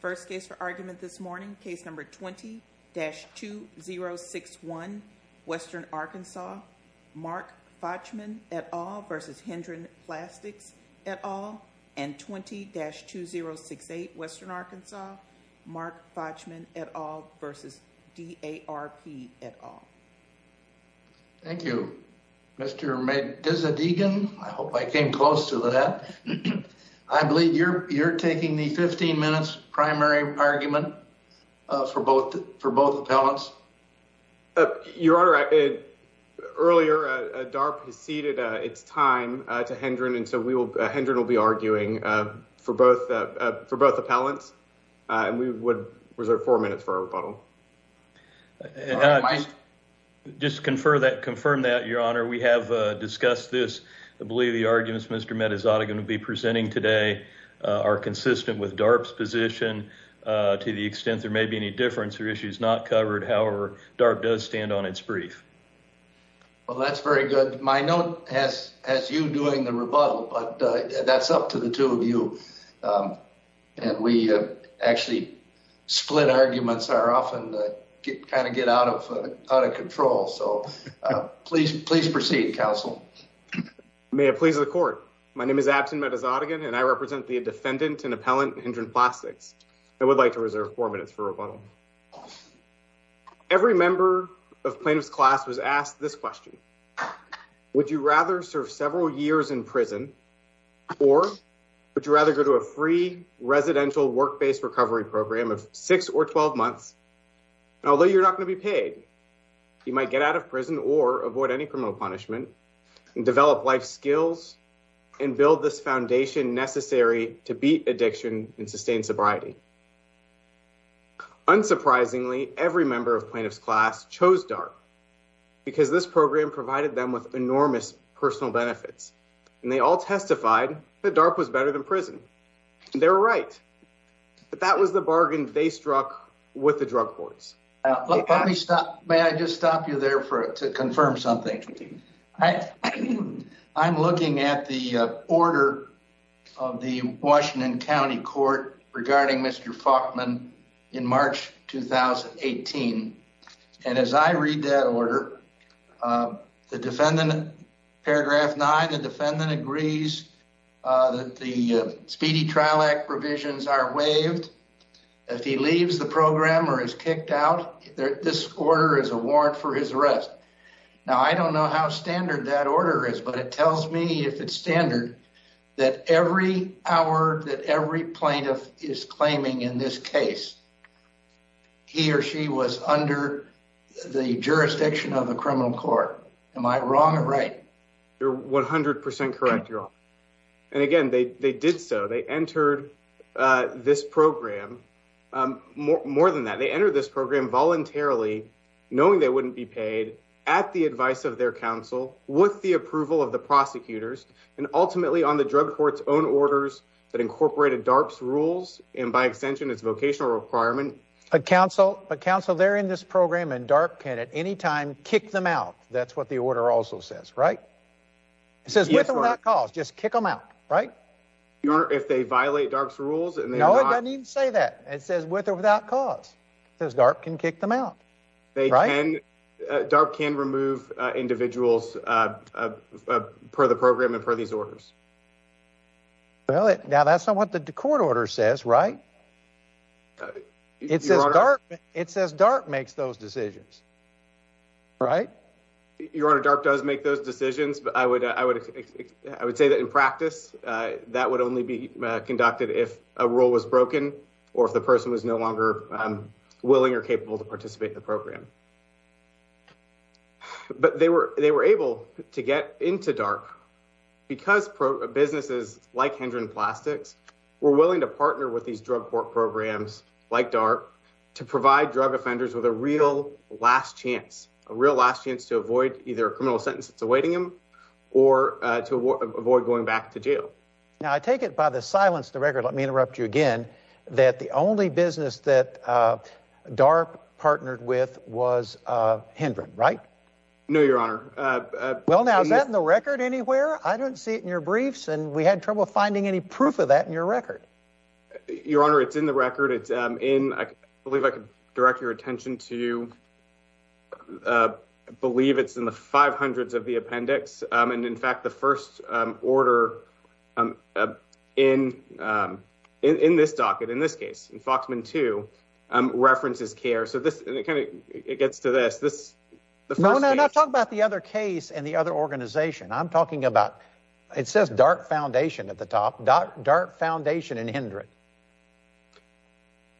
First case for argument this morning, case number 20-2061, Western Arkansas, Mark Fochtman, et al. v. Hendren Plastics, et al. and 20-2068, Western Arkansas, Mark Fochtman, et al. v. D.A.R.P., et al. Thank you, Mr. Madizadegan. I hope I came close to that. I believe you're taking the 15-minute primary argument for both appellants. Your Honor, earlier D.A.R.P. has ceded its time to Hendren, and so Hendren will be arguing for both appellants, and we would reserve four minutes for our rebuttal. Just to confirm that, Your Honor, we have discussed this. I believe the argument, Mr. Madizadegan will be presenting today, are consistent with D.A.R.P.'s position to the extent there may be any difference or issues not covered. However, D.A.R.P. does stand on its brief. Well, that's very good. My note has you doing the rebuttal, but that's up to the two of you, and we actually split arguments are often kind of get out of control, so please proceed, Counsel. May it please the Court, my name is Absin Madizadegan, and I represent the defendant and appellant Hendren Plastics. I would like to reserve four minutes for rebuttal. Every member of plaintiff's class was asked this question. Would you rather serve several years in prison, or would you rather go to a free residential work-based recovery program of six or twelve months, and although you're not going to be paid, you might get out of prison or avoid any criminal punishment, develop life skills, and build this foundation necessary to beat addiction and sustain sobriety. Unsurprisingly, every member of plaintiff's class chose D.A.R.P. because this program provided them with enormous personal benefits, and they all testified that D.A.R.P. was better than prison. They were right, but that was the bargain they struck with the drug courts. Let me stop, may I just stop you there for to confirm something. I'm looking at the order of the Washington County Court regarding Mr. Faulkman in March 2018, and as I read that order, the defendant, paragraph 9, the defendant agrees that the programmer is kicked out. This order is a warrant for his arrest. Now, I don't know how standard that order is, but it tells me, if it's standard, that every hour that every plaintiff is claiming in this case, he or she was under the jurisdiction of the criminal court. Am I wrong or right? You're 100% correct, you're wrong, and again, they did so. They entered this program, more than that, they entered this program voluntarily, knowing they wouldn't be paid, at the advice of their counsel, with the approval of the prosecutors, and ultimately on the drug court's own orders that incorporated D.A.R.P.'s rules, and by extension, its vocational requirement. A counsel, a counsel, they're in this program, and D.A.R.P. can at any time kick them out. That's what the order also says, right? It says with or without cause, just kick them out, right? Your Honor, if they violate D.A.R.P.'s rules, and they're not... No, it doesn't even say that. It says with or without cause. It says D.A.R.P. can kick them out, right? They can, D.A.R.P. can remove individuals per the program and per these orders. Well, now that's not what the court order says, right? It says D.A.R.P. makes those decisions, right? Your Honor, D.A.R.P. does make those decisions, but I would say that in practice, that would only be conducted if a rule was broken, or if the person was no longer willing or capable to participate in the program. But they were able to get into D.A.R.P. because businesses like Hendron Plastics were willing to partner with these drug court programs like D.A.R.P. to provide drug offenders with a real last chance, a real last chance to avoid either a criminal sentence that's awaiting them or to avoid going back to jail. Now, I take it by the silence of the record, let me interrupt you again, that the only business that D.A.R.P. partnered with was Hendron, right? No, Your Honor. Well, now, is that in the record anywhere? I don't see it in your briefs, and we had trouble finding any proof of that in your record. Your Honor, it's in the record. It's in, I believe I could direct your attention to, I believe it's in the 500s of the appendix, and in fact, the first order in this docket, in this case, in Foxman 2, references CARE. So this, and it kind of, it gets to this. No, no, no, talk about the other case and the other organization. I'm talking about, it says D.A.R.P. Foundation at the top, D.A.R.P. Foundation and Hendron.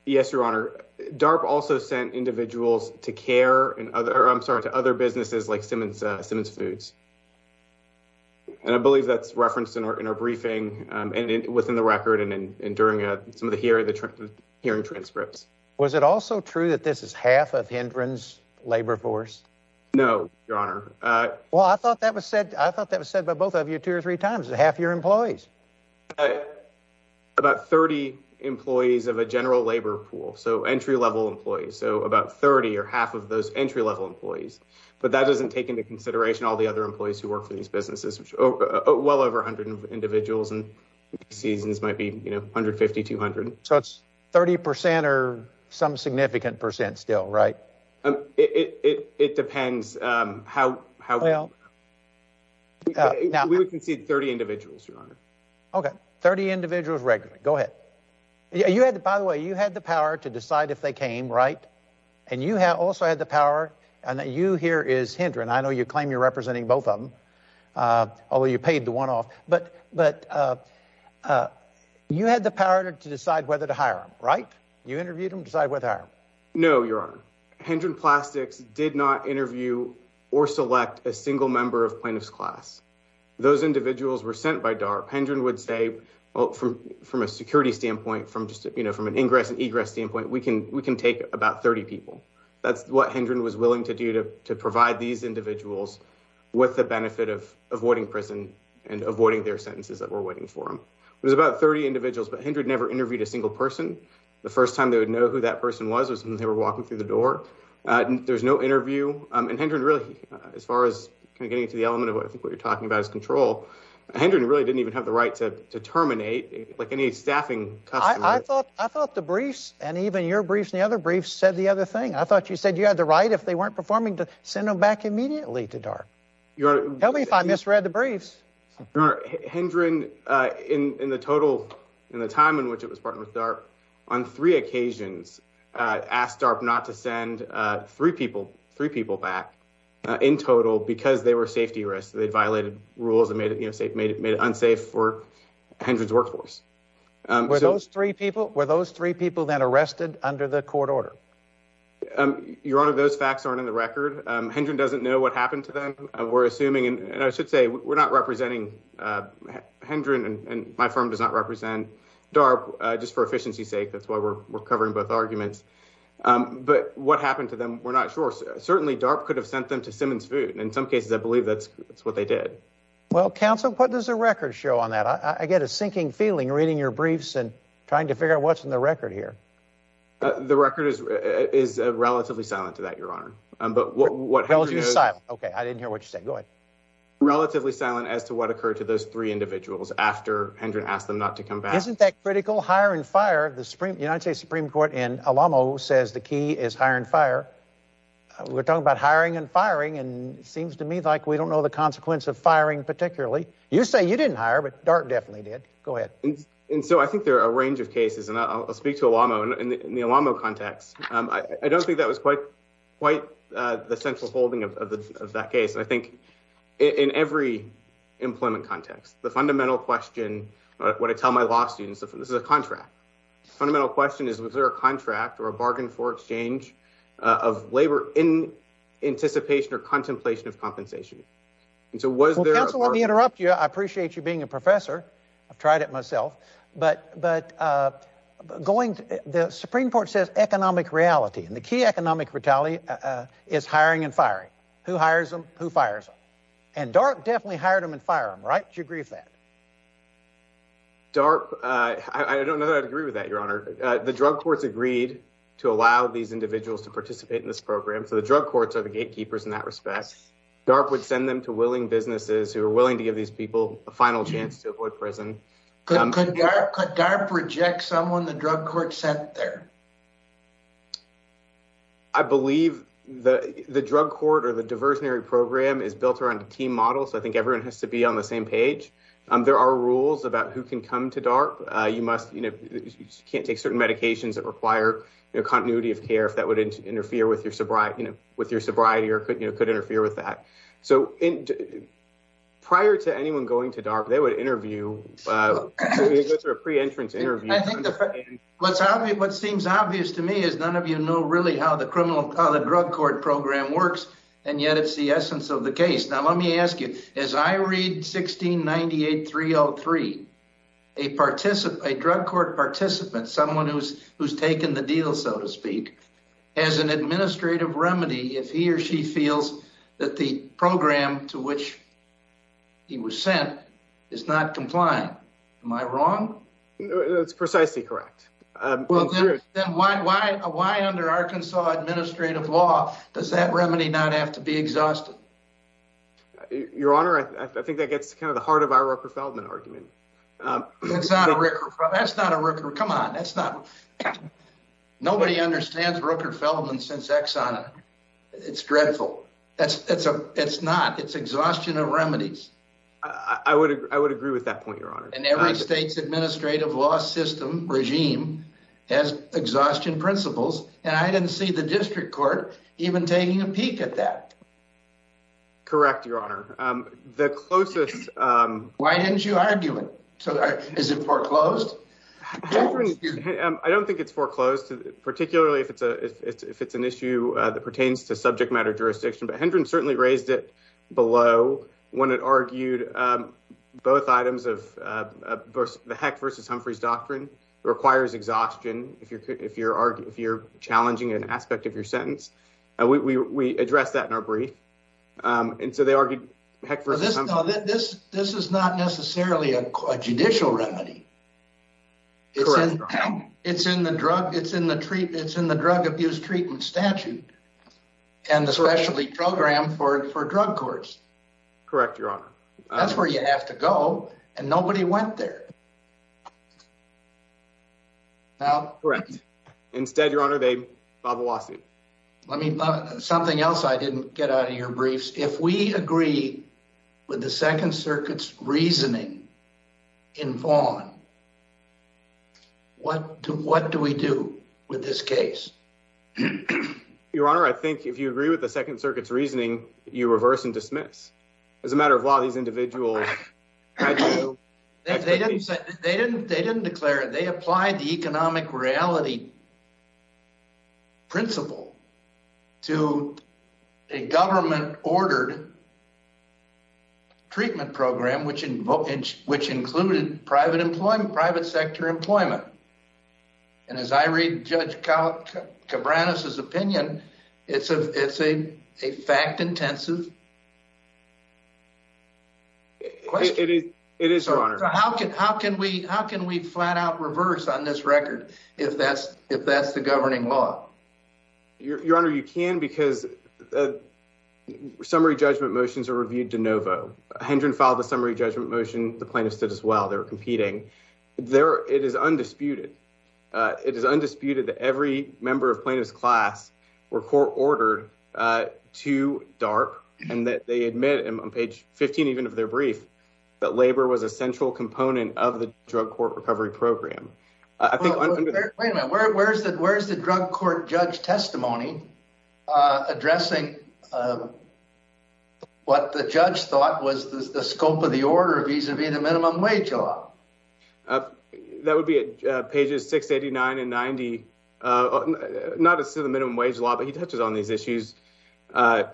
Yes, Your Honor. D.A.R.P. also sent individuals to CARE and other, I'm sorry, to other businesses like Simmons Foods, and I believe that's referenced in our briefing and within the record and during some of the hearing transcripts. Was it also true that this is half of Hendron's labor force? No, Your Honor. Well, I thought that was said, I thought that was said by both of you two or three times. It's half your employees. About 30 employees of a general labor pool. So entry-level employees. So about 30 or half of those entry-level employees. But that doesn't take into consideration all the other employees who work for these businesses, which are well over 100 individuals and seasons might be, you know, 150, 200. So it's 30% or some significant percent still, right? It depends how well. We would concede 30 individuals, Your Honor. Okay, 30 individuals regularly. Go ahead. You had, by the way, you had the power to decide if they came, right? And you also had the power and that you here is Hendron. I know you claim you're representing both of them, although you paid the one off. But you had the power to decide whether to hire him, right? You interviewed him, decide whether. No, Your Honor. Hendron Plastics did not interview or select a single member of plaintiff's class. Those individuals were sent by DARP. Hendron would say, well, from a security standpoint, from just, you know, from an ingress and egress standpoint, we can take about 30 people. That's what Hendron was willing to do to provide these individuals with the benefit of avoiding prison and avoiding their sentences that were waiting for him. It was about 30 individuals, but Hendron never interviewed a single person. The first time they would know who that person was was when they were walking through the door. There's no interview. And Hendron really, as far as kind of getting into the element of what you're talking about is control. Hendron really didn't even have the right to terminate like any staffing customer. I thought I thought the briefs and even your briefs and the other briefs said the other thing. I thought you said you had the right if they weren't performing to send them back in the total, in the time in which it was partner with DARP on three occasions, asked DARP not to send three people, three people back in total because they were safety risks. They violated rules and made it unsafe for Hendron's workforce. Were those three people, were those three people then arrested under the court order? Your Honor, those facts aren't in the record. Hendron doesn't know what happened to them. We're assuming and I should say we're not representing Hendron and my firm does not represent DARP just for efficiency sake. That's why we're covering both arguments. But what happened to them, we're not sure. Certainly, DARP could have sent them to Simmons Food. In some cases, I believe that's what they did. Well, counsel, what does the record show on that? I get a sinking feeling reading your briefs and trying to figure out what's in the record here. The record is relatively silent to that, Your Honor. What held you silent? Okay. I didn't hear what you said. Go ahead. Relatively silent as to what occurred to those three individuals after Hendron asked them not to come back. Isn't that critical? Hire and fire. The United States Supreme Court in Alamo says the key is hire and fire. We're talking about hiring and firing and it seems to me like we don't know the consequence of firing particularly. You say you didn't hire, but DARP definitely did. Go ahead. I think there are a range of cases and I'll speak to Alamo in the Alamo context. I don't think that was quite the central holding of that case. I think in every employment context, the fundamental question, what I tell my law students, this is a contract. The fundamental question is, was there a contract or a bargain for exchange of labor in anticipation or contemplation of compensation? Well, counsel, let me interrupt you. I appreciate you being a professor. I've tried it myself. The Supreme Court says economic reality and the key economic brutality is hiring and firing. Who hires them? Who fires them? And DARP definitely hired them and fire them, right? Do you agree with that? DARP, I don't know that I'd agree with that, your honor. The drug courts agreed to allow these individuals to participate in this program. So the drug courts are the gatekeepers in that respect. DARP would send them to willing businesses who are willing to give these people a final chance to avoid prison. Could DARP reject someone the drug court sent there? I believe the drug court or the diversionary program is built around a team model. So I think everyone has to be on the same page. There are rules about who can come to DARP. You can't take certain medications that require continuity of care if that would interfere with your sobriety or could interfere with that. So prior to anyone going to DARP, they would interview. What seems obvious to me is none of you know really how the drug court program works, and yet it's the essence of the case. Now, let me ask you, as I read 1698-303, a drug court participant, someone who's taken the deal, so to speak, has an administrative remedy if he or she feels that the program to which he was sent is not compliant. Am I wrong? That's precisely correct. Then why under Arkansas administrative law does that remedy not have to be exhausted? Your honor, I think that gets to kind of the heart of our Rucker-Feldman argument. It's not a Rucker-Feldman. That's not a Rucker-Feldman. Come on, that's not. Nobody understands Rucker-Feldman since Exxon. It's dreadful. It's not. It's exhaustion of remedies. I would agree with that point, your honor. And every state's administrative law system regime has exhaustion principles, and I didn't see the district court even taking a peek at that. Correct, your honor. The closest... Why didn't you argue it? Is it foreclosed? I don't think it's foreclosed, particularly if it's an issue that pertains to subject matter jurisdiction, but Hendren certainly raised it below when it argued both items of the Heck versus Humphreys doctrine requires exhaustion if you're challenging an aspect of your sentence. We addressed that in our brief, and so they argued Heck versus Humphreys. This is not necessarily a judicial remedy. It's in the drug abuse treatment statute and the specialty program for drug courts. Correct, your honor. That's where you have to go, and nobody went there. Correct. Instead, your honor, they filed a lawsuit. Let me... Something else I didn't get out of your briefs. If we agree with the Second Circuit's reasoning in Vaughan, what do we do with this case? Your honor, I think if you agree with the Second Circuit's reasoning, you reverse and dismiss. As a matter of law, these individuals... They didn't declare it. They applied the economic reality principle to a government-ordered treatment program, which included private employment, private sector employment. As I read Judge Cabranes' opinion, it's a fact-intensive question. It is, your honor. How can we flat-out reverse on this record if that's the governing law? Your honor, you can because summary judgment motions are reviewed de novo. Hendren filed a summary judgment motion. The plaintiffs did as well. They were competing. It is undisputed that every member of plaintiff's class were court-ordered to DARP and that they admit on page 15 even of their brief that labor was a central component of the drug court recovery program. I think under... Wait a minute. Where's the drug court judge testimony addressing what the judge thought was the scope of the order vis-a-vis the minimum wage law? That would be at pages 689 and 90. Not as to the minimum wage law, but he touches on these issues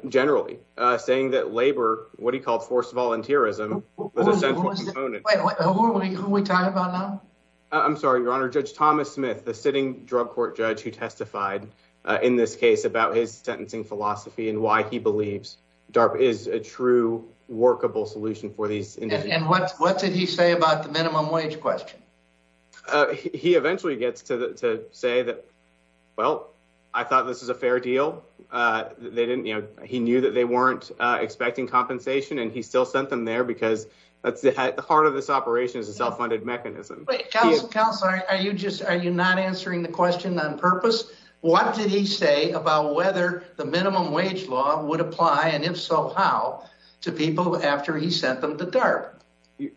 generally, saying that labor, what he called forced volunteerism, was a central component. Wait. Who are we talking about now? I'm sorry, your honor. Judge Thomas Smith, the sitting drug court judge who testified in this case about his sentencing philosophy and why he believes DARP is a true workable solution for these individuals. And what did he say about the minimum wage question? He eventually gets to say that, well, I thought this is a fair deal. He knew that they weren't expecting compensation and he still sent them there because the heart of this operation is a self-funded mechanism. Counselor, are you not answering the question on purpose? What did he say about whether the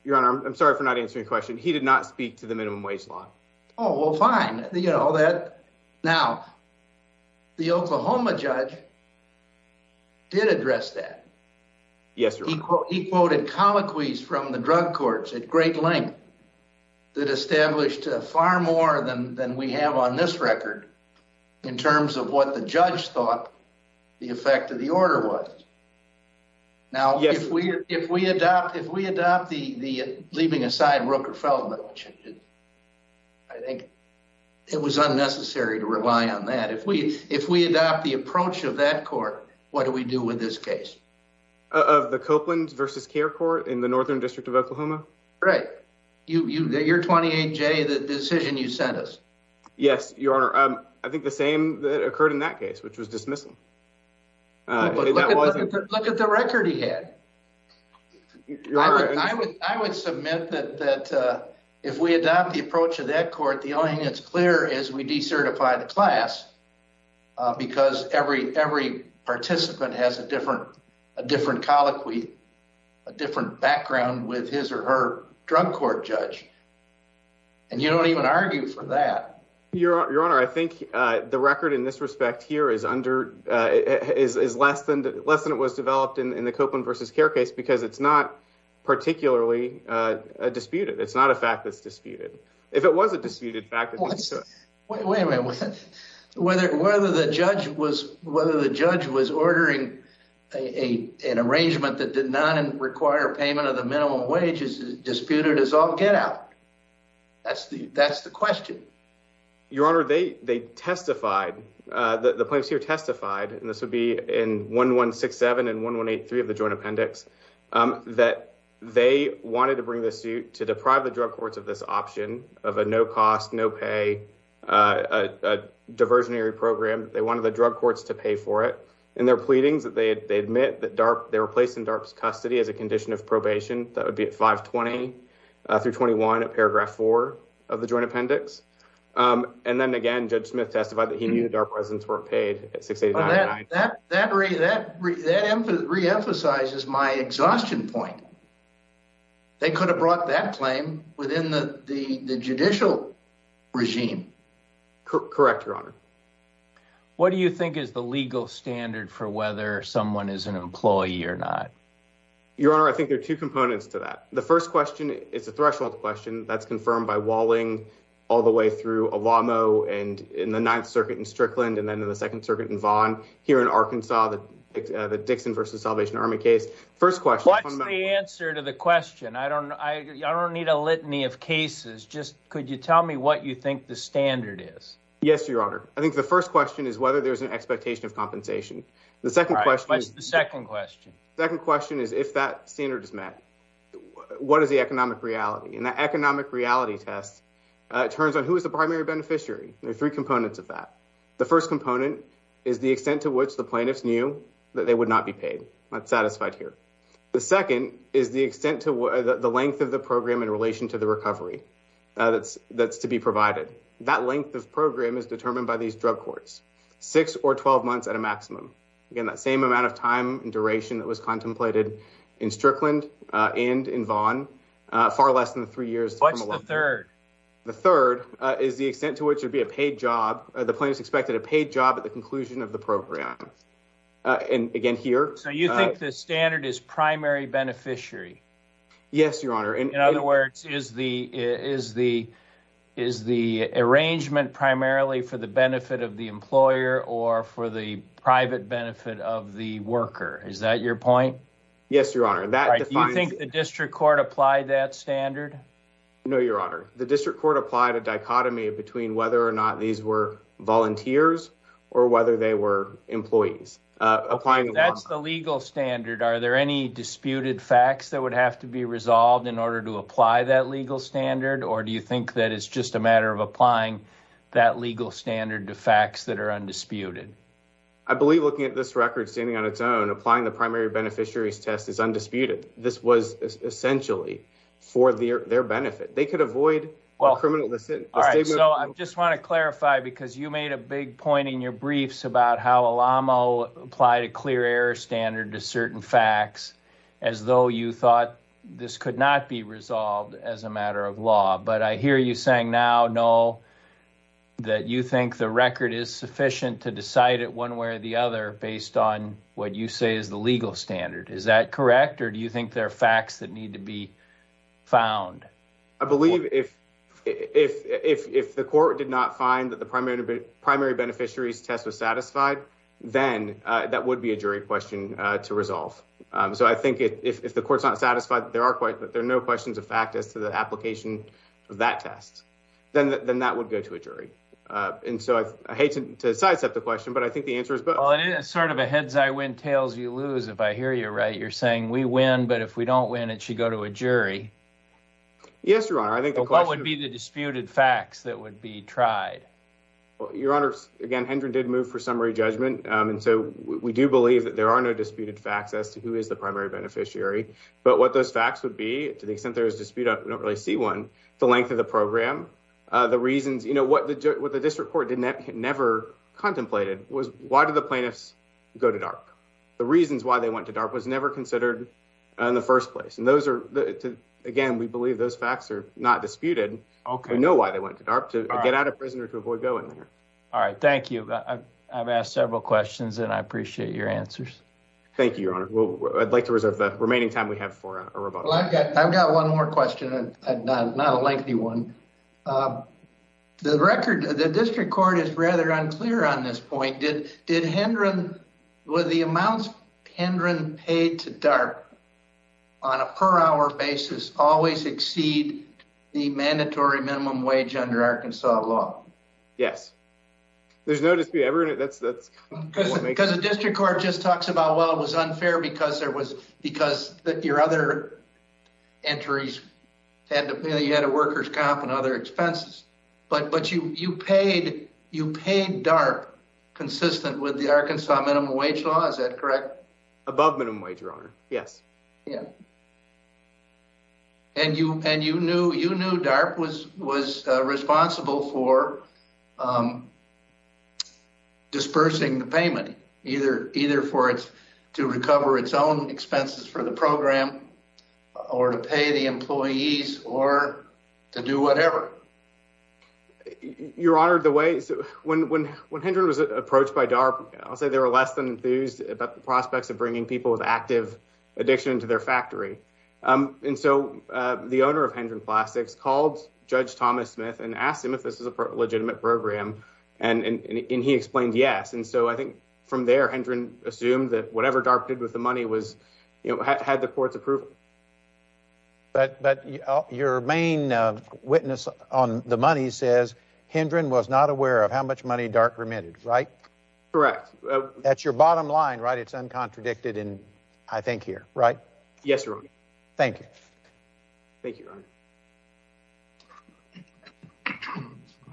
Your honor, I'm sorry for not answering your question. He did not speak to the minimum wage law. Oh, well, fine. Now, the Oklahoma judge did address that. Yes, your honor. He quoted colloquies from the drug courts at great length that established far more than we have on this record in terms of what the judge thought the effect of the order was. Now, if we adopt the leaving aside Rooker-Feldman, I think it was unnecessary to rely on that. If we adopt the approach of that court, what do we do with this case? Of the Copeland versus Care Court in the Northern District of Oklahoma? Right. Your 28-J, the decision you sent us. Yes, your honor. I think the same that occurred in that case, which was dismissal. But look at the record he had. I would submit that if we adopt the approach of that court, the only thing that's clear is we decertify the class because every participant has a different colloquy, a different background with his or her drug court judge. And you don't even argue for that. Your honor, I think the record in this respect here is less than it was developed in the Copeland versus Care case because it's not particularly disputed. It's not a fact that's disputed. If it was a disputed fact... Wait a minute. Whether the judge was ordering an arrangement that did not require payment of the minimum wage is disputed as all get out. That's the question. Your honor, they testified, the plaintiffs here testified, and this would be in 1167 and 1183 of the joint appendix, that they wanted to bring the suit to deprive the drug courts of this option of a no-cost, no-pay, diversionary program. They wanted the drug courts to pay for it. In their pleadings, they admit that they were placed in DARP's custody as a condition of Then again, Judge Smith testified that he knew DARP residents weren't paid at $689.99. That reemphasizes my exhaustion point. They could have brought that claim within the judicial regime. Correct, your honor. What do you think is the legal standard for whether someone is an employee or not? Your honor, I think there are two components to that. The first question is a threshold question that's confirmed by Walling all the way through Olamo and in the Ninth Circuit in Strickland, and then in the Second Circuit in Vaughan, here in Arkansas, the Dixon v. Salvation Army case. What's the answer to the question? I don't need a litany of cases. Just could you tell me what you think the standard is? Yes, your honor. I think the first question is whether there's an expectation of compensation. The second question is if that standard is met, what is the economic reality? That economic reality test turns on who is the primary beneficiary. There are three components of that. The first component is the extent to which the plaintiffs knew that they would not be paid. I'm not satisfied here. The second is the extent to the length of the program in relation to the recovery that's to be provided. That length of program is determined by these drug courts, six or 12 months at a maximum. Again, that same amount of time and duration that was contemplated in Strickland and in Vaughan, far less than three years. What's the third? The third is the extent to which it would be a paid job. The plaintiffs expected a paid job at the conclusion of the program. And again, here. So you think the standard is primary beneficiary? Yes, your honor. In other words, is the arrangement primarily for the benefit of the employer or for the private benefit of the worker? Is that your point? Yes, your honor. Do you think the district court applied that standard? No, your honor. The district court applied a dichotomy between whether or not these were volunteers or whether they were employees. That's the legal standard. Are there any disputed facts that would have to be resolved in order to apply that legal standard? Or do you think that it's just a matter of applying that legal standard to facts that are undisputed? I believe looking at this record standing on its own, applying the primary beneficiary's test is undisputed. This was essentially for their benefit. They could avoid a criminal decision. All right. So I just want to clarify, because you made a big point in your briefs about how Alamo applied a clear error standard to certain facts, as though you thought this could not be resolved as a matter of law. But I hear you saying now, no, that you think the record is the legal standard. Is that correct? Or do you think there are facts that need to be found? I believe if the court did not find that the primary beneficiary's test was satisfied, then that would be a jury question to resolve. So I think if the court's not satisfied that there are no questions of fact as to the application of that test, then that would go to a jury. And so I hate to sidestep the question, but I think the answer is both. It is sort of a heads-I-win, tails-you-lose, if I hear you right. You're saying we win, but if we don't win, it should go to a jury. Yes, Your Honor. But what would be the disputed facts that would be tried? Your Honor, again, Hendren did move for summary judgment. And so we do believe that there are no disputed facts as to who is the primary beneficiary. But what those facts would be, to the extent there is dispute, I don't really see one, the length of the program, the reasons. What the the reasons why they went to DARP was never considered in the first place. And those are, again, we believe those facts are not disputed. We know why they went to DARP, to get out of prison or to avoid going there. All right. Thank you. I've asked several questions and I appreciate your answers. Thank you, Your Honor. I'd like to reserve the remaining time we have for a rebuttal. I've got one more question, not a lengthy one. The record, the district court is rather unclear on this point. Did Hendren, were the amounts Hendren paid to DARP on a per hour basis always exceed the mandatory minimum wage under Arkansas law? Yes. There's no dispute ever. Because the district court just talks about, well, it was unfair because there was, because your other entries had to pay, you had a worker's comp and other expenses. But, but you, you paid, you paid DARP consistent with the Arkansas minimum wage law. Is that correct? Above minimum wage, Your Honor. Yes. Yeah. And you, and you knew, you knew DARP was, was responsible for dispersing the payment either, either for it to recover its own expenses for the program or to pay the employees or to do whatever. Your Honor, the way, when, when, when Hendren was approached by DARP, I'll say they were less than enthused about the prospects of bringing people with active addiction to their factory. And so the owner of Hendren Plastics called Judge Thomas Smith and asked him if this is a legitimate program. And, and he explained yes. And so I think from there, Hendren assumed that whatever DARP did with the money was, you know, had the court's approval. But, but your main witness on the money says Hendren was not aware of how much money DARP remitted, right? Correct. That's your bottom line, right? It's uncontradicted in, I think here, right? Yes, Your Honor. Thank you. Thank you, Your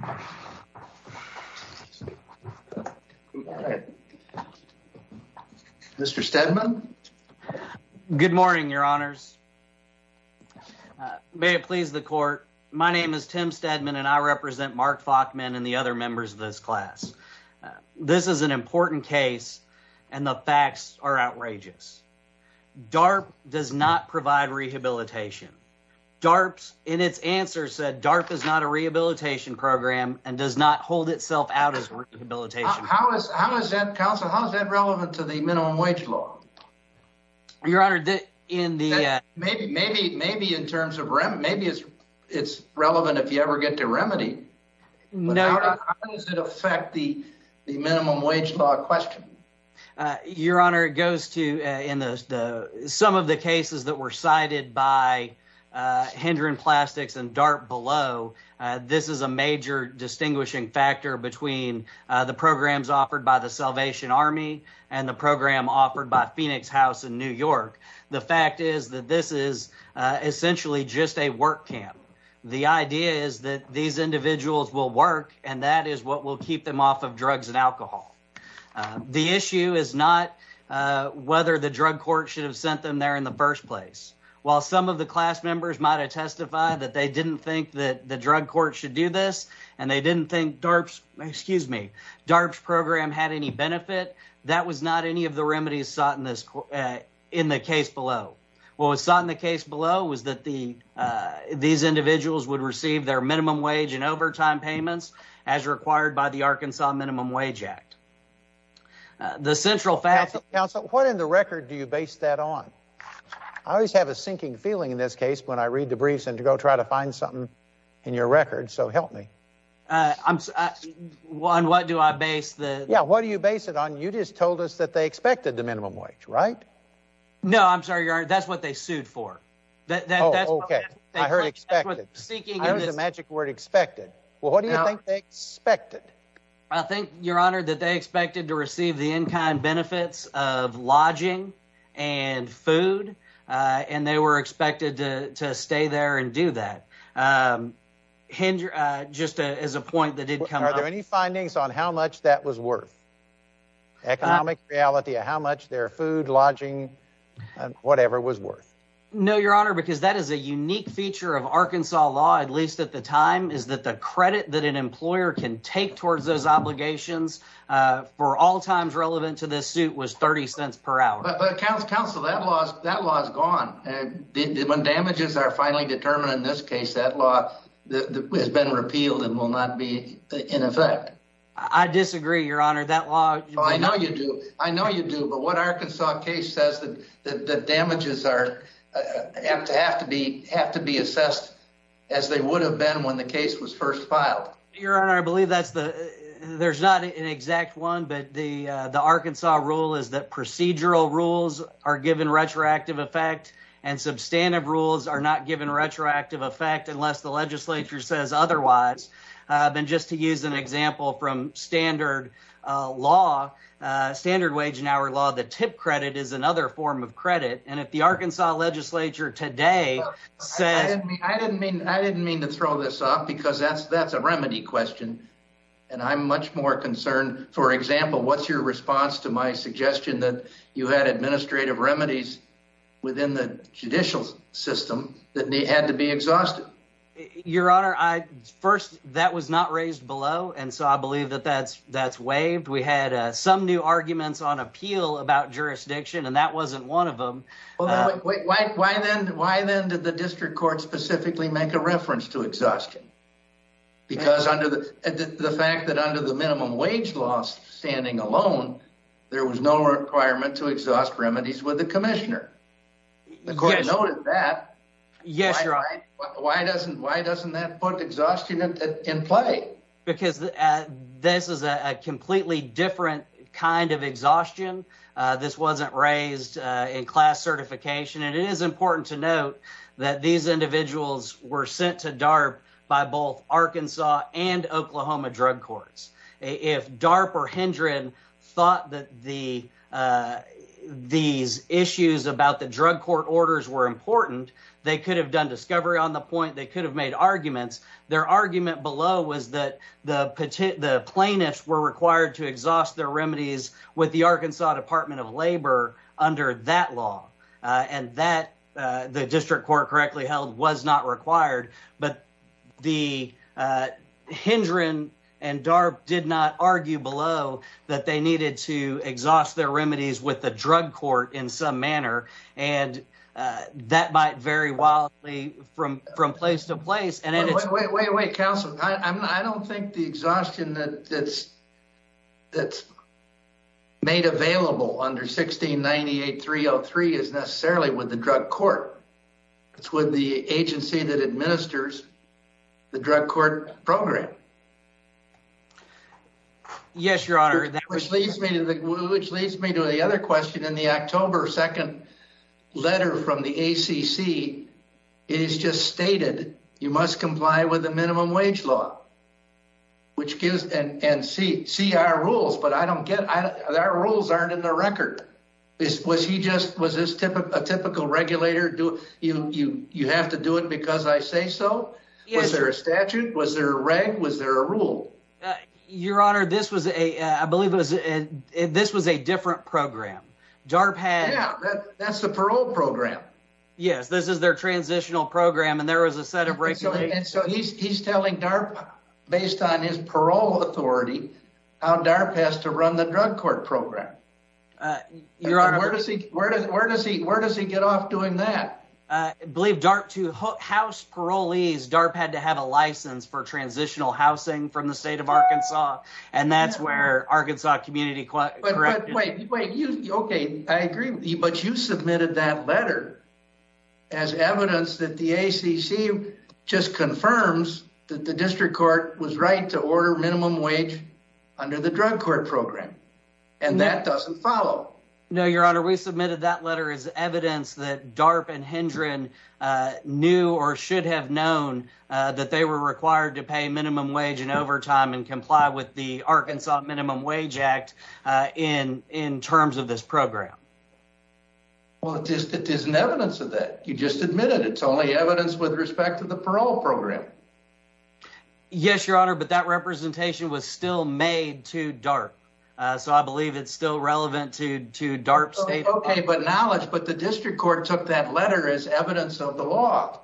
Honor. All right. Mr. Stedman. Good morning, Your Honors. May it please the court. My name is Tim Stedman and I represent Mark Falkman and the other members of this class. This is an important case and the facts are outrageous. DARP does not DARP is not a rehabilitation program and does not hold itself out as rehabilitation. How is, how is that, counsel, how is that relevant to the minimum wage law? Your Honor, in the Maybe, maybe, maybe in terms of remedy, maybe it's, it's relevant if you ever get to remedy. No. But how does it affect the, the minimum wage law question? Your Honor, it goes to, in the, the, some of the cases that were cited by Hendron Plastics and DARP below, this is a major distinguishing factor between the programs offered by the Salvation Army and the program offered by Phoenix House in New York. The fact is that this is essentially just a work camp. The idea is that these individuals will work and that is what will keep them off of drugs and alcohol. The issue is not whether the drug court should have sent them there in the first place. While some of the class members might have testified that they didn't think that the drug court should do this and they didn't think DARP's, excuse me, DARP's program had any benefit, that was not any of the remedies sought in this, in the case below. What was sought in the case below was that the, these individuals would receive their minimum wage. The central factor. Counsel, what in the record do you base that on? I always have a sinking feeling in this case when I read the briefs and to go try to find something in your record. So help me. On what do I base the... Yeah, what do you base it on? You just told us that they expected the minimum wage, right? No, I'm sorry, Your Honor. That's what they sued for. Oh, okay. I heard expected. That's what seeking... I heard the magic word expected. Well, what do you think they expected? I think, Your Honor, that they expected to receive the in-kind benefits of lodging and food, and they were expected to stay there and do that. Hind, just as a point that did come up... Are there any findings on how much that was worth? Economic reality of how much their food, lodging, whatever was worth. No, Your Honor, because that is a unique feature of Arkansas law, at least at the time, is that the credit that an employer can take towards those obligations for all times relevant to this suit was 30 cents per hour. But counsel, that law is gone. When damages are finally determined in this case, that law has been repealed and will not be in effect. I disagree, Your Honor. That law... I know you do. I know you do. But what Arkansas case says that the damages have to be assessed as they would have been when the case was first filed? Your Honor, I believe that's the... There's not an exact one, but the Arkansas rule is that procedural rules are given retroactive effect and substantive rules are not given retroactive effect unless the legislature says otherwise. And just to use an example from standard law, standard wage and hour law, the tip credit is another form of credit. And if the Arkansas legislature today says... I didn't mean to throw this off because that's a remedy question. And I'm much more concerned, for example, what's your response to my suggestion that you had administrative remedies within the judicial system that had to be exhausted? Your Honor, first, that was not raised below. And so I believe that that's waived. We had some new arguments on appeal about jurisdiction, and that wasn't one of them. Well, why then did the district court specifically make a reference to exhaustion? Because under the fact that under the minimum wage law standing alone, there was no requirement to exhaust remedies with the commissioner. The court noted that. Yes, Your Honor. Why doesn't that put exhaustion in play? Because this is a completely different kind of exhaustion. This wasn't raised in class certification. And it is important to note that these individuals were sent to DARP by both Arkansas and Oklahoma drug courts. If DARP or Hendren thought that these issues about the drug court orders were important, they could have done discovery on the point, they could have made arguments. Their argument below was that the plaintiffs were required to exhaust their remedies with the Arkansas Department of Labor under that law. And that the district court correctly held was not required. But the Hendren and DARP did not argue below that they needed to exhaust their remedies with the drug court in some manner. And that might vary wildly from place to place. Wait, wait, wait, wait, counsel. I don't think the exhaustion that's made available under 1698.303 is necessarily with the drug court. It's with the agency that administers the drug court program. Yes, Your Honor. Which leads me to the other question in the October 2nd letter from the ACC. It's just stated, you must comply with the minimum wage law. Which gives, and see our rules, but I don't get, our rules aren't in the record. Was he just, was this a typical regulator, you have to do it because I say so? Yes. Was there a statute? Was there a reg? Was there a rule? Your Honor, this was a, I believe it was, this was a different program. DARP had- Yeah, that's the parole program. Yes, this is their transitional program and there was a set of regulations. So he's telling DARP, based on his parole authority, how DARP has to run the drug court program. Your Honor- Where does he, where does he, where does he get off doing that? Believe DARP to house parolees, DARP had to have a license for transitional housing from the state of Arkansas. And that's where Arkansas Community Correction- Wait, wait, you, okay, I agree, but you submitted that letter as evidence that the ACC just confirms that the district court was right to order minimum wage under the drug court program. And that doesn't follow. No, Your Honor, we submitted that letter as evidence that DARP and Hendren knew or should have known that they were required to pay minimum wage and overtime and comply with the Arkansas Minimum Wage Act in terms of this program. Well, it just isn't evidence of that. You just admitted it's only evidence with respect to the parole program. Yes, Your Honor, but that representation was still made to DARP. So I believe it's still relevant to DARP state- Okay, but knowledge, but the district court took that letter as evidence of the law.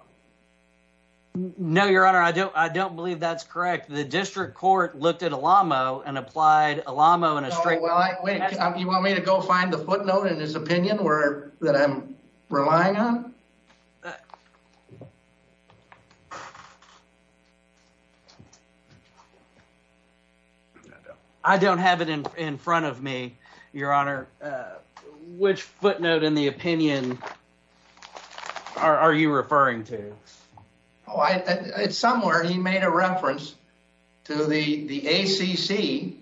No, Your Honor, I don't believe that's correct. The district court looked at ELAMO and applied ELAMO in a- Oh, well, you want me to go find the footnote in his opinion that I'm relying on? I don't have it in front of me, Your Honor. Which footnote in the opinion are you referring to? Oh, it's somewhere he made a reference to the ACC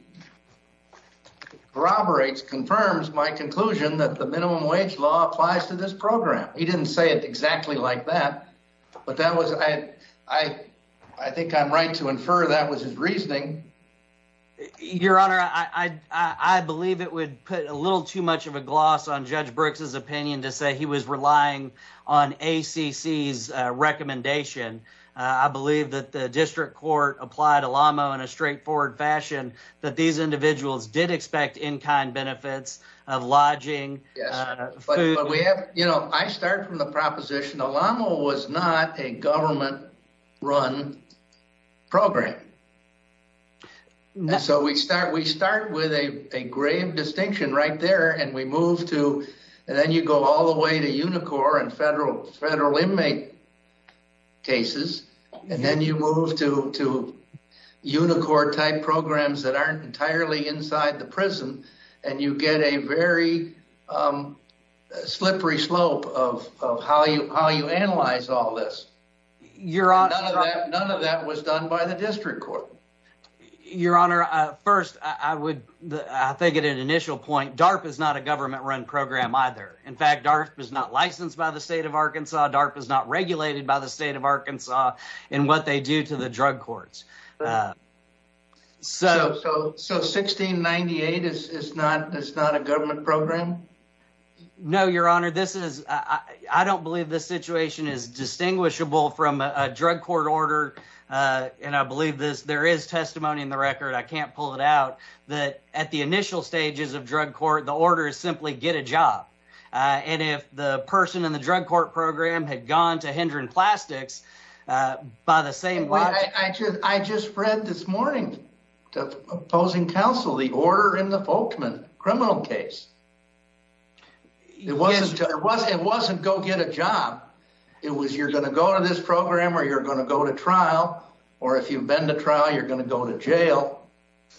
corroborates, confirms my conclusion that the minimum wage law applies to this program. He didn't say it exactly like that, but I think I'm right to infer that was his reasoning. Your Honor, I believe it would put a little too much of a gloss on Judge Brooks's opinion to say he was relying on ACC's recommendation. I believe that the district court applied ELAMO in a straightforward fashion, that these individuals did expect in-kind benefits of lodging. You know, I start from the proposition ELAMO was not a government-run program. So we start with a grave distinction right there and we move to, and then you go all the way to Unicor and federal inmate cases, and then you move to Unicor-type programs that aren't entirely inside the prison and you get a very slippery slope of how you analyze all this. None of that was done by the district court. Your Honor, first, I would, I think at an initial point, DARP is not a government-run program either. In fact, DARP is not licensed by the state of Arkansas. DARP is not regulated by the state of Arkansas in what they do to the drug courts. So 1698 is not a government program? No, Your Honor, this is, I don't believe this situation is distinguishable from a drug court order, and I believe this, there is testimony in the record, I can't pull it out, that at the And if the person in the drug court program had gone to Hendron Plastics by the same... I just read this morning to opposing counsel the order in the Folkman criminal case. It wasn't go get a job. It was you're going to go to this program or you're going to go to trial, or if you've been to trial, you're going to go to jail.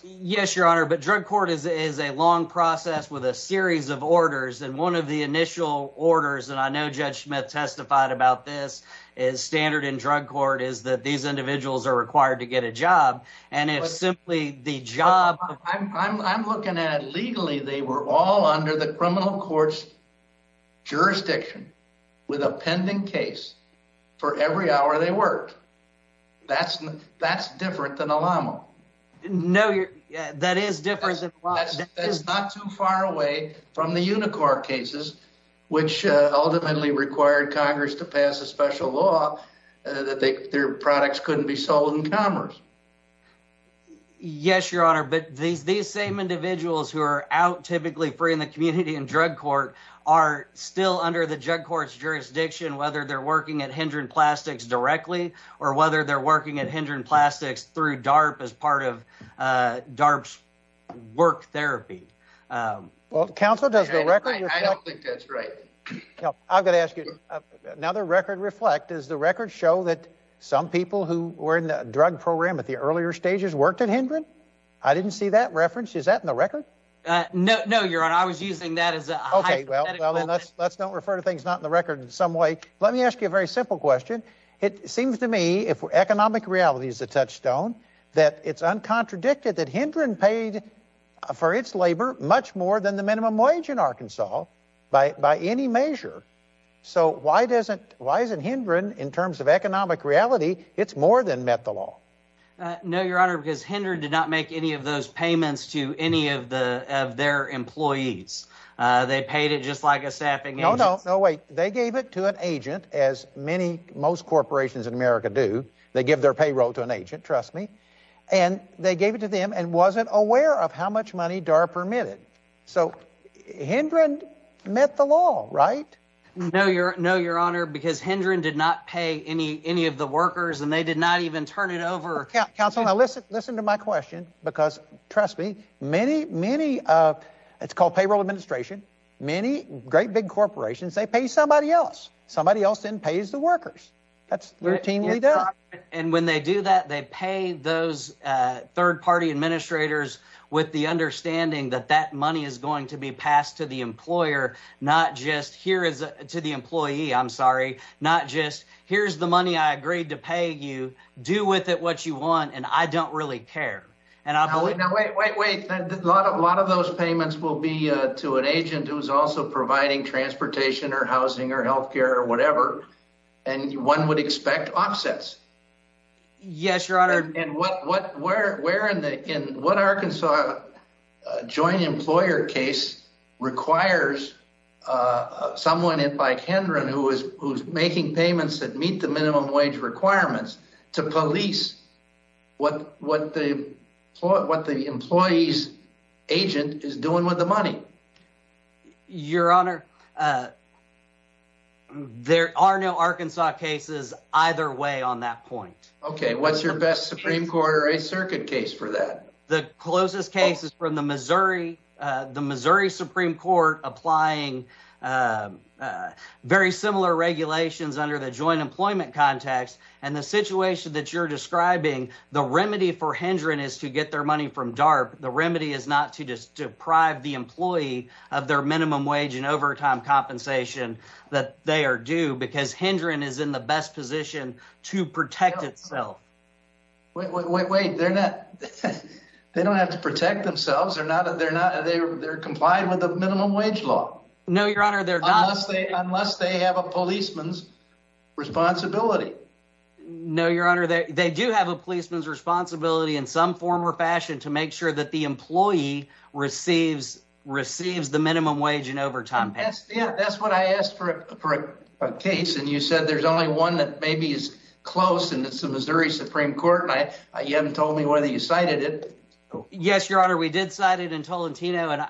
Yes, Your Honor, but drug court is a long process with a series of orders, and one of the initial orders, and I know Judge Smith testified about this, is standard in drug court is that these individuals are required to get a job, and if simply the job... I'm looking at it legally, they were all under the criminal court's jurisdiction with a pending case for every hour they worked. That's different than a llama. No, that is different. That's not too far away from the Unicor cases, which ultimately required Congress to pass a special law that their products couldn't be sold in commerce. Yes, Your Honor, but these same individuals who are out typically free in the community in drug court are still under the drug court's jurisdiction, whether they're working at Hendren Plastics directly or whether they're working at Hendren Plastics through DARP as part of DARP's work therapy. Well, counsel, does the record... I don't think that's right. I've got to ask you, now the record reflect, does the record show that some people who were in the drug program at the earlier stages worked at Hendren? I didn't see that reference. Is that in the record? No, Your Honor, I was using that as a... Well, let's don't refer to things not in the record in some way. Let me ask you a very simple question. It seems to me, if economic reality is a touchstone, that it's uncontradicted that Hendren paid for its labor much more than the minimum wage in Arkansas by any measure. So why isn't Hendren, in terms of economic reality, it's more than met the law? No, Your Honor, because Hendren did not make any of those payments to any of their employees. They paid it just like a staffing agent. No, no, no, wait. They gave it to an agent, as many, most corporations in America do. They give their payroll to an agent, trust me. And they gave it to them and wasn't aware of how much money DARP permitted. So Hendren met the law, right? No, Your Honor, because Hendren did not pay any of the workers and they did not even turn it over. Counselor, now listen to my question, because trust me, many, many, it's called payroll administration. Many great big corporations, they pay somebody else. Somebody else then pays the workers. That's routinely done. And when they do that, they pay those third party administrators with the understanding that that money is going to be passed to the employer, not just here is to the employee, I'm sorry, not just here's the money I agreed to pay you, do with it what you want, and I don't really care. And I believe... Now, wait, wait, wait. A lot of those payments will be to an agent who's also providing transportation or housing or healthcare or whatever. And one would expect offsets. Yes, Your Honor. And what Arkansas joint employer case requires someone like Hendren who's making payments that require minimum wage requirements to police what the employee's agent is doing with the money? Your Honor, there are no Arkansas cases either way on that point. OK, what's your best Supreme Court or a circuit case for that? The closest case is from the Missouri. The Missouri Supreme Court applying a very similar regulations under the joint employment context and the situation that you're describing. The remedy for Hendren is to get their money from DARP. The remedy is not to just deprive the employee of their minimum wage and overtime compensation that they are due because Hendren is in the best position to protect itself. Wait, wait, wait, wait. They're not. They don't have to protect themselves. They're not. They're not. They're complying with the minimum wage law. No, Your Honor, they're not. Unless they have a policeman's responsibility. No, Your Honor, they do have a policeman's responsibility in some form or fashion to make sure that the employee receives the minimum wage and overtime pay. Yeah, that's what I asked for a case and you said there's only one that maybe is close and it's the Missouri Supreme Court and you haven't told me whether you cited it. Yes, Your Honor, we did cite it in Tolentino and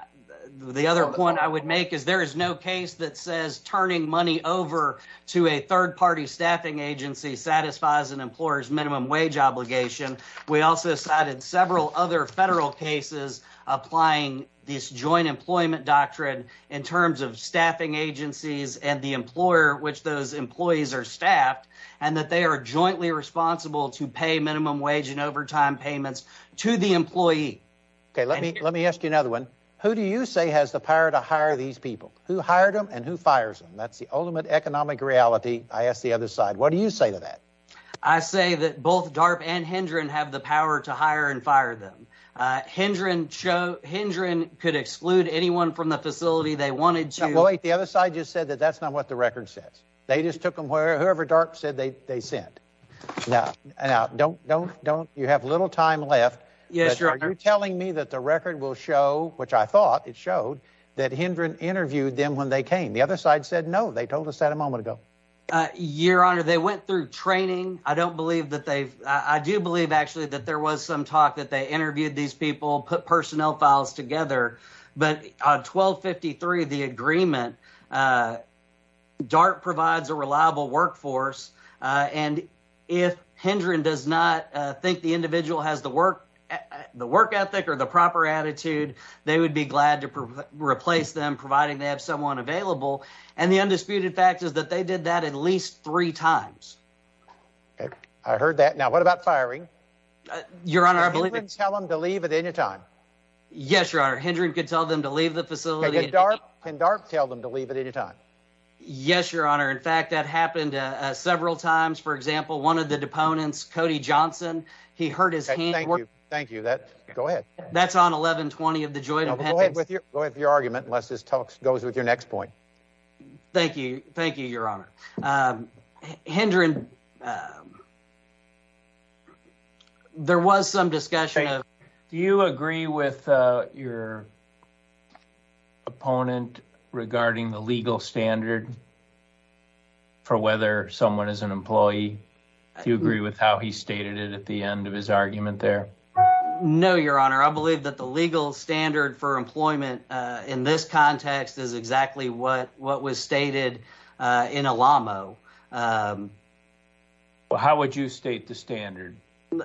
the other point I would make is there is no case that says turning money over to a third party staffing agency satisfies an employer's minimum wage obligation. We also cited several other federal cases applying this joint employment doctrine in terms of staffing agencies and the employer which those employees are staffed and that they are jointly responsible to pay minimum wage and overtime payments to the employee. Okay, let me let me ask you another one. Who do you say has the power to hire these people? Who hired them and who fires them? That's the ultimate economic reality. I asked the other side. What do you say to that? I say that both DARP and Hendron have the power to hire and fire them. Hendron could exclude anyone from the facility they wanted to. Wait, the other side just said that that's not what the record says. They just took them whoever DARP said they sent. Now don't don't don't you have little time left. Yes, Your Honor. Are you telling me that the record will show, which I thought it showed, that Hendron interviewed them when they came? The other side said no. They told us that a moment ago. Your Honor, they went through training. I don't believe that they've I do believe actually that there was some talk that they interviewed these people, put personnel files together, but on 1253, the agreement, DARP provides a reliable workforce and if Hendron does not think the individual has the work ethic or the proper attitude, they would be glad to replace them, providing they have someone available. And the undisputed fact is that they did that at least three times. Okay, I heard that. Now what about firing? Your Honor, I believe tell them to leave at any time. Yes, Your Honor. Hendron could tell them to leave the facility. Can DARP tell them to leave at any time? Yes, Your Honor. In fact, that happened several times. For example, one of the deponents, Cody Johnson, he hurt his hand. Thank you. Thank you. Go ahead. That's on 1120 of the joint. Go ahead with your argument unless this talks goes with your next point. Thank you. Thank you. Do you agree with your opponent regarding the legal standard for whether someone is an employee? Do you agree with how he stated it at the end of his argument there? No, Your Honor. I believe that the legal standard for employment in this context is exactly what what was stated in Alamo. How would you state the standard?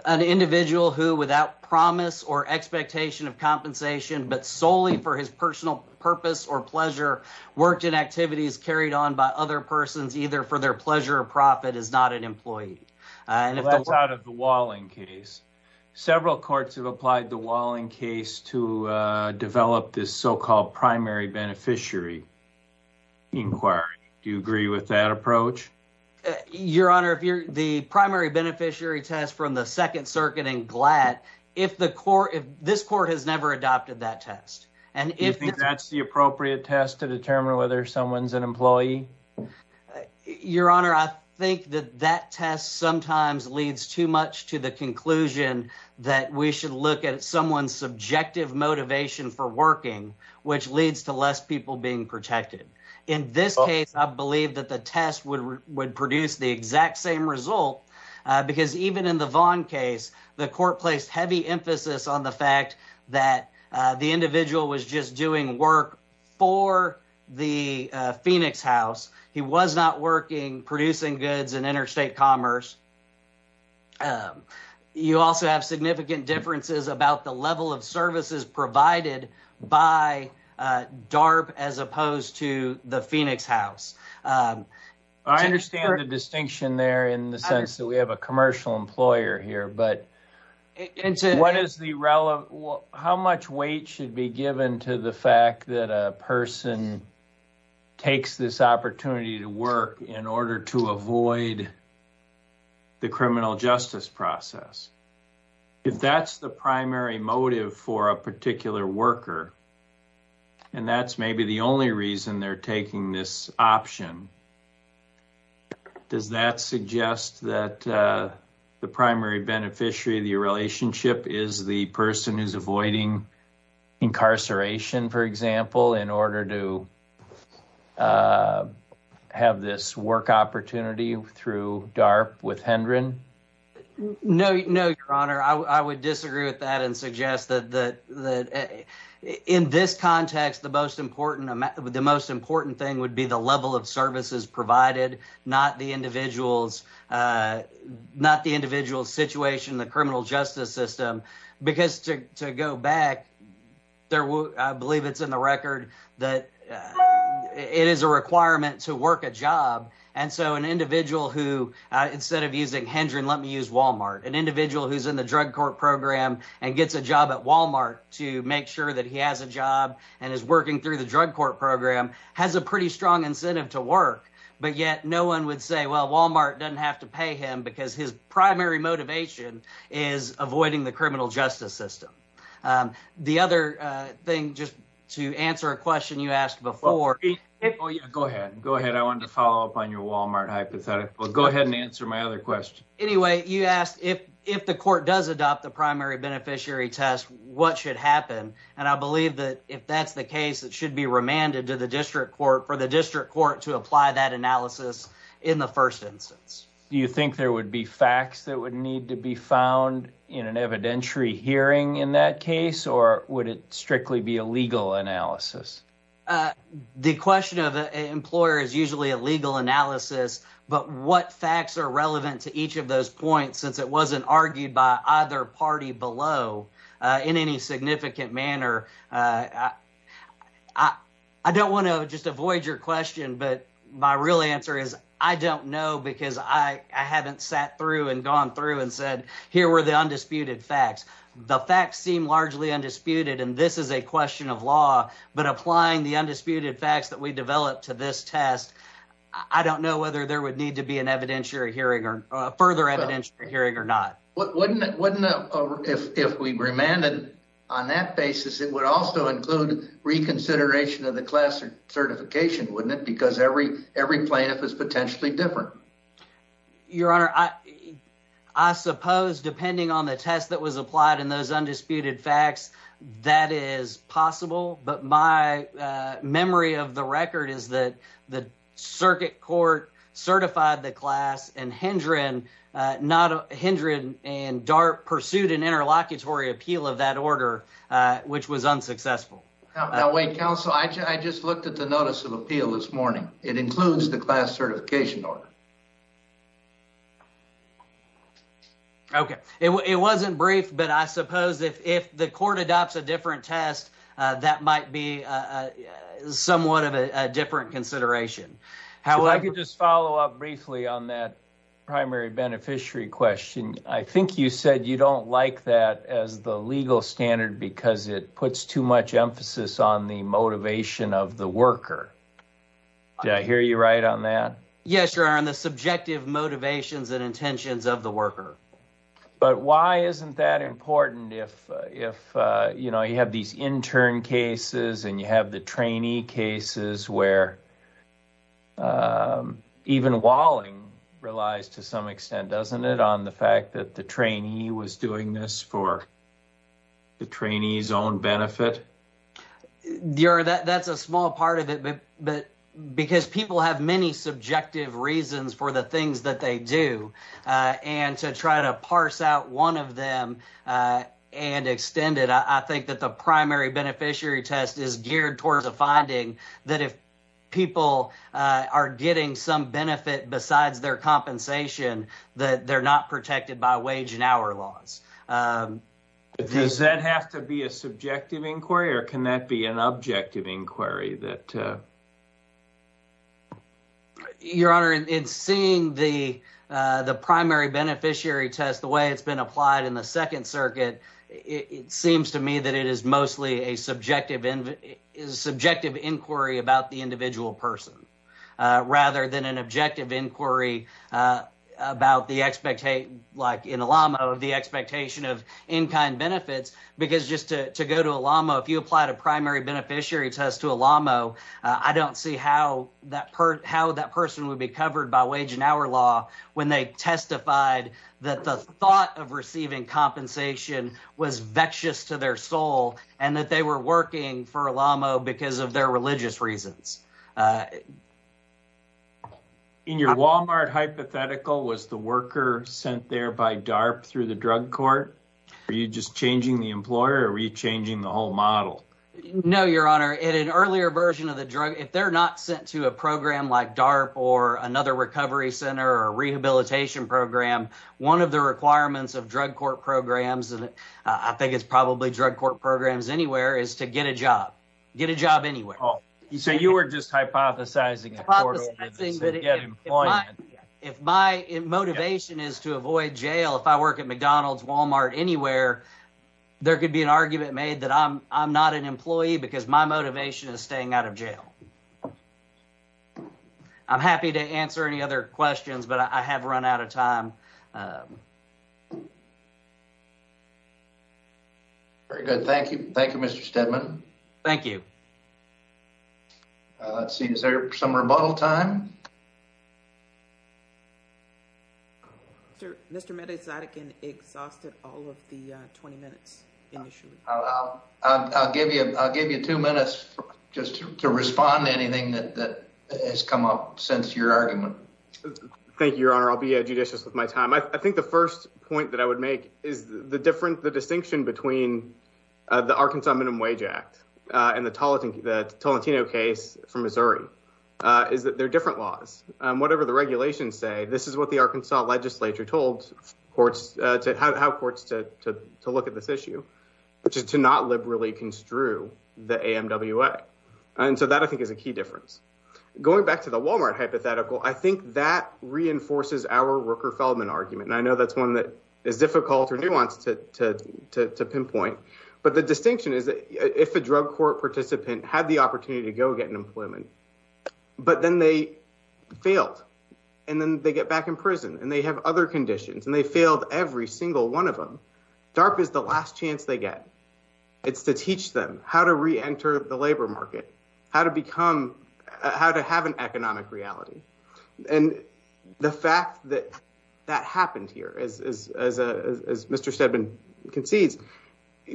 An individual who, without promise or expectation of compensation, but solely for his personal purpose or pleasure, worked in activities carried on by other persons, either for their pleasure or profit, is not an employee. And that's out of the Walling case. Several courts have applied the Walling case to do agree with that approach. Your Honor, if you're the primary beneficiary test from the Second Circuit and glad if the court, if this court has never adopted that test, and if that's the appropriate test to determine whether someone's an employee, Your Honor, I think that that test sometimes leads too much to the conclusion that we should look at someone's subjective motivation for working, which leads to less people being protected. In this case, I believe that the test would produce the exact same result, because even in the Vaughn case, the court placed heavy emphasis on the fact that the individual was just doing work for the Phoenix house. He was not working producing goods in interstate commerce. You also have significant differences about the level of services provided by DARP as opposed to the Phoenix house. I understand the distinction there in the sense that we have a commercial employer here, but how much weight should be given to the fact that a person takes this opportunity to work in order to avoid the criminal justice process? If that's the primary motive for a particular worker, and that's maybe the only reason they're taking this option, does that suggest that the primary beneficiary of the relationship is the person who's avoiding incarceration, for example, in order to have this work opportunity through DARP with Hendren? No, your honor. I would disagree with that and suggest that in this context, the most important thing would be the level of services provided, not the individual's situation, the criminal justice system. To go back, I believe it's in the record that it is a requirement to work a job. Instead of using Hendren, let me use Walmart. An individual who's in the drug court program and gets a job at Walmart to make sure that he has a job and is working through the drug court program has a pretty strong incentive to work, but yet no one would say, well, Walmart doesn't have to pay him because his primary motivation is avoiding the criminal before. Go ahead. I wanted to follow up on your Walmart hypothetical. Go ahead and answer my other question. Anyway, you asked if the court does adopt the primary beneficiary test, what should happen? I believe that if that's the case, it should be remanded to the district court for the district court to apply that analysis in the first instance. Do you think there would be facts that would need to be found in an evidentiary hearing in that case, or would it strictly be a The question of an employer is usually a legal analysis, but what facts are relevant to each of those points since it wasn't argued by either party below in any significant manner? I don't want to just avoid your question, but my real answer is I don't know because I haven't sat through and gone through and said, here were the undisputed facts. The facts seem largely undisputed, and this is a question of law, but applying the undisputed facts that we developed to this test, I don't know whether there would need to be a further evidentiary hearing or not. If we remanded on that basis, it would also include reconsideration of the class certification, wouldn't it? Because every plaintiff is potentially different. Your Honor, I suppose depending on the test that was applied and those undisputed facts, that is possible, but my memory of the record is that the circuit court certified the class, and Hendren and DART pursued an interlocutory appeal of that order, which was unsuccessful. Now wait, counsel, I just looked at the notice of appeal this morning. It includes the class certification order. Okay. It wasn't brief, but I suppose if the court adopts a different test, that might be somewhat of a different consideration. I could just follow up briefly on that primary beneficiary question. I think you said you don't like that as the legal standard because it puts too much emphasis on the motivation of the worker. Did I hear you right on that? Yes, Your Honor, on the subjective motivations and intentions of the worker. But why isn't that important if you have these intern cases and you have the trainee cases where even Walling relies to some extent, doesn't it, on the fact that the trainee was doing this for the trainee's own benefit? Your Honor, that's a small part of it, because people have many subjective reasons for the things that they do, and to try to parse out one of them and extend it, I think that the primary beneficiary test is geared towards a finding that if people are getting some benefit besides their compensation, that they're not protected by wage and hour laws. Does that have to be a subjective inquiry, or can that be an objective inquiry? Your Honor, in seeing the primary beneficiary test, the way it's been applied in the Second Circuit, it seems to me that it is mostly a subjective inquiry about the individual person, rather than an objective inquiry like in ELAMO, the expectation of in-kind benefits. Because just to go to ELAMO, if you applied a primary beneficiary test to ELAMO, I don't see how that person would be covered by wage and hour law when they testified that the thought of receiving compensation was vexed to their soul and that they were working for ELAMO because of their religious reasons. In your Walmart hypothetical, was the worker sent there by DARP through the drug court? Were you just changing the employer, or were you changing the whole model? No, Your Honor. In an earlier version of the drug, if they're not sent to a program like DARP or another recovery center or rehabilitation program, one of the requirements of drug court programs, and I think it's probably drug court programs anywhere, is to get a job. Get a job anywhere. So you were just hypothesizing. If my motivation is to avoid jail, if I work at McDonald's, Walmart, anywhere, there could be an argument made that I'm not an employee because my motivation is staying out of jail. I'm happy to answer any other questions, but I have run out of time. Very good. Thank you. Thank you, Mr. Steadman. Thank you. Let's see. Is there some rebuttal time? Sir, Mr. Mede-Zadigin exhausted all of the 20 minutes initially. I'll give you two minutes just to respond to anything that has come up since your argument. Thank you, Your Honor. I'll be I think the first point that I would make is the distinction between the Arkansas Minimum Wage Act and the Tolentino case from Missouri is that they're different laws. Whatever the regulations say, this is what the Arkansas legislature told courts to look at this issue, which is to not liberally construe the AMWA. And so that, I think, is a key difference. Going back to the Walmart hypothetical, I think that reinforces our Rooker-Feldman argument. And I know that's one that is difficult or nuanced to pinpoint. But the distinction is that if a drug court participant had the opportunity to go get an employment, but then they failed and then they get back in prison and they have other conditions and they failed every single one of them, DARPA is the last chance they get. It's to teach them how to reenter the labor market, how to become, how to have an economic reality. And the fact that that happened here, as Mr. Steadman concedes,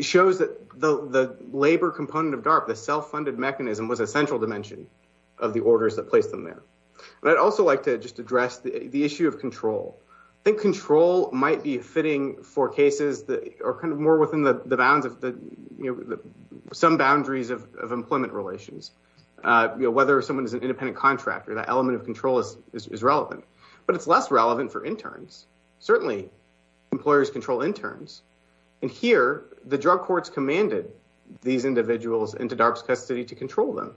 shows that the labor component of DARPA, the self-funded mechanism, was a central dimension of the orders that placed them there. But I'd also like to just address the issue of control. I think control might be fitting for cases that are kind of more within the bounds of the, you know, some boundaries of independent contractor. That element of control is relevant. But it's less relevant for interns. Certainly, employers control interns. And here, the drug courts commanded these individuals into DARPA's custody to control them.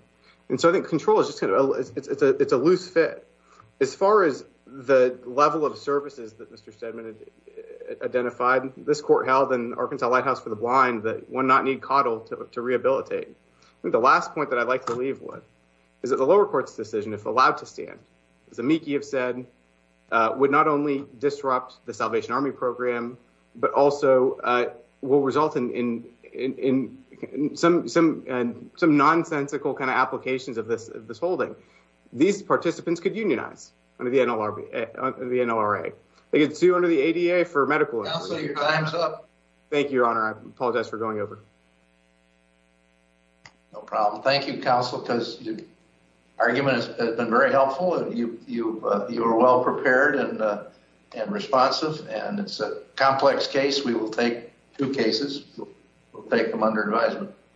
And so I think control is just kind of, it's a loose fit. As far as the level of services that Mr. Steadman identified, this court held in Arkansas Lighthouse for the Blind that one not need CODL to rehabilitate. I think the last point that I'd like to leave with is that the lower court's decision, if allowed to stand, as Amiki have said, would not only disrupt the Salvation Army program, but also will result in some nonsensical kind of applications of this holding. These participants could unionize under the NLRA. They could sue under the ADA for medical... Counselor, your time's up. Thank you, Your Honor. I apologize for going over. No problem. Thank you, Counsel, because your argument has been very helpful. You were well prepared and responsive. And it's a complex case. We will take two cases. We'll take them under advisement.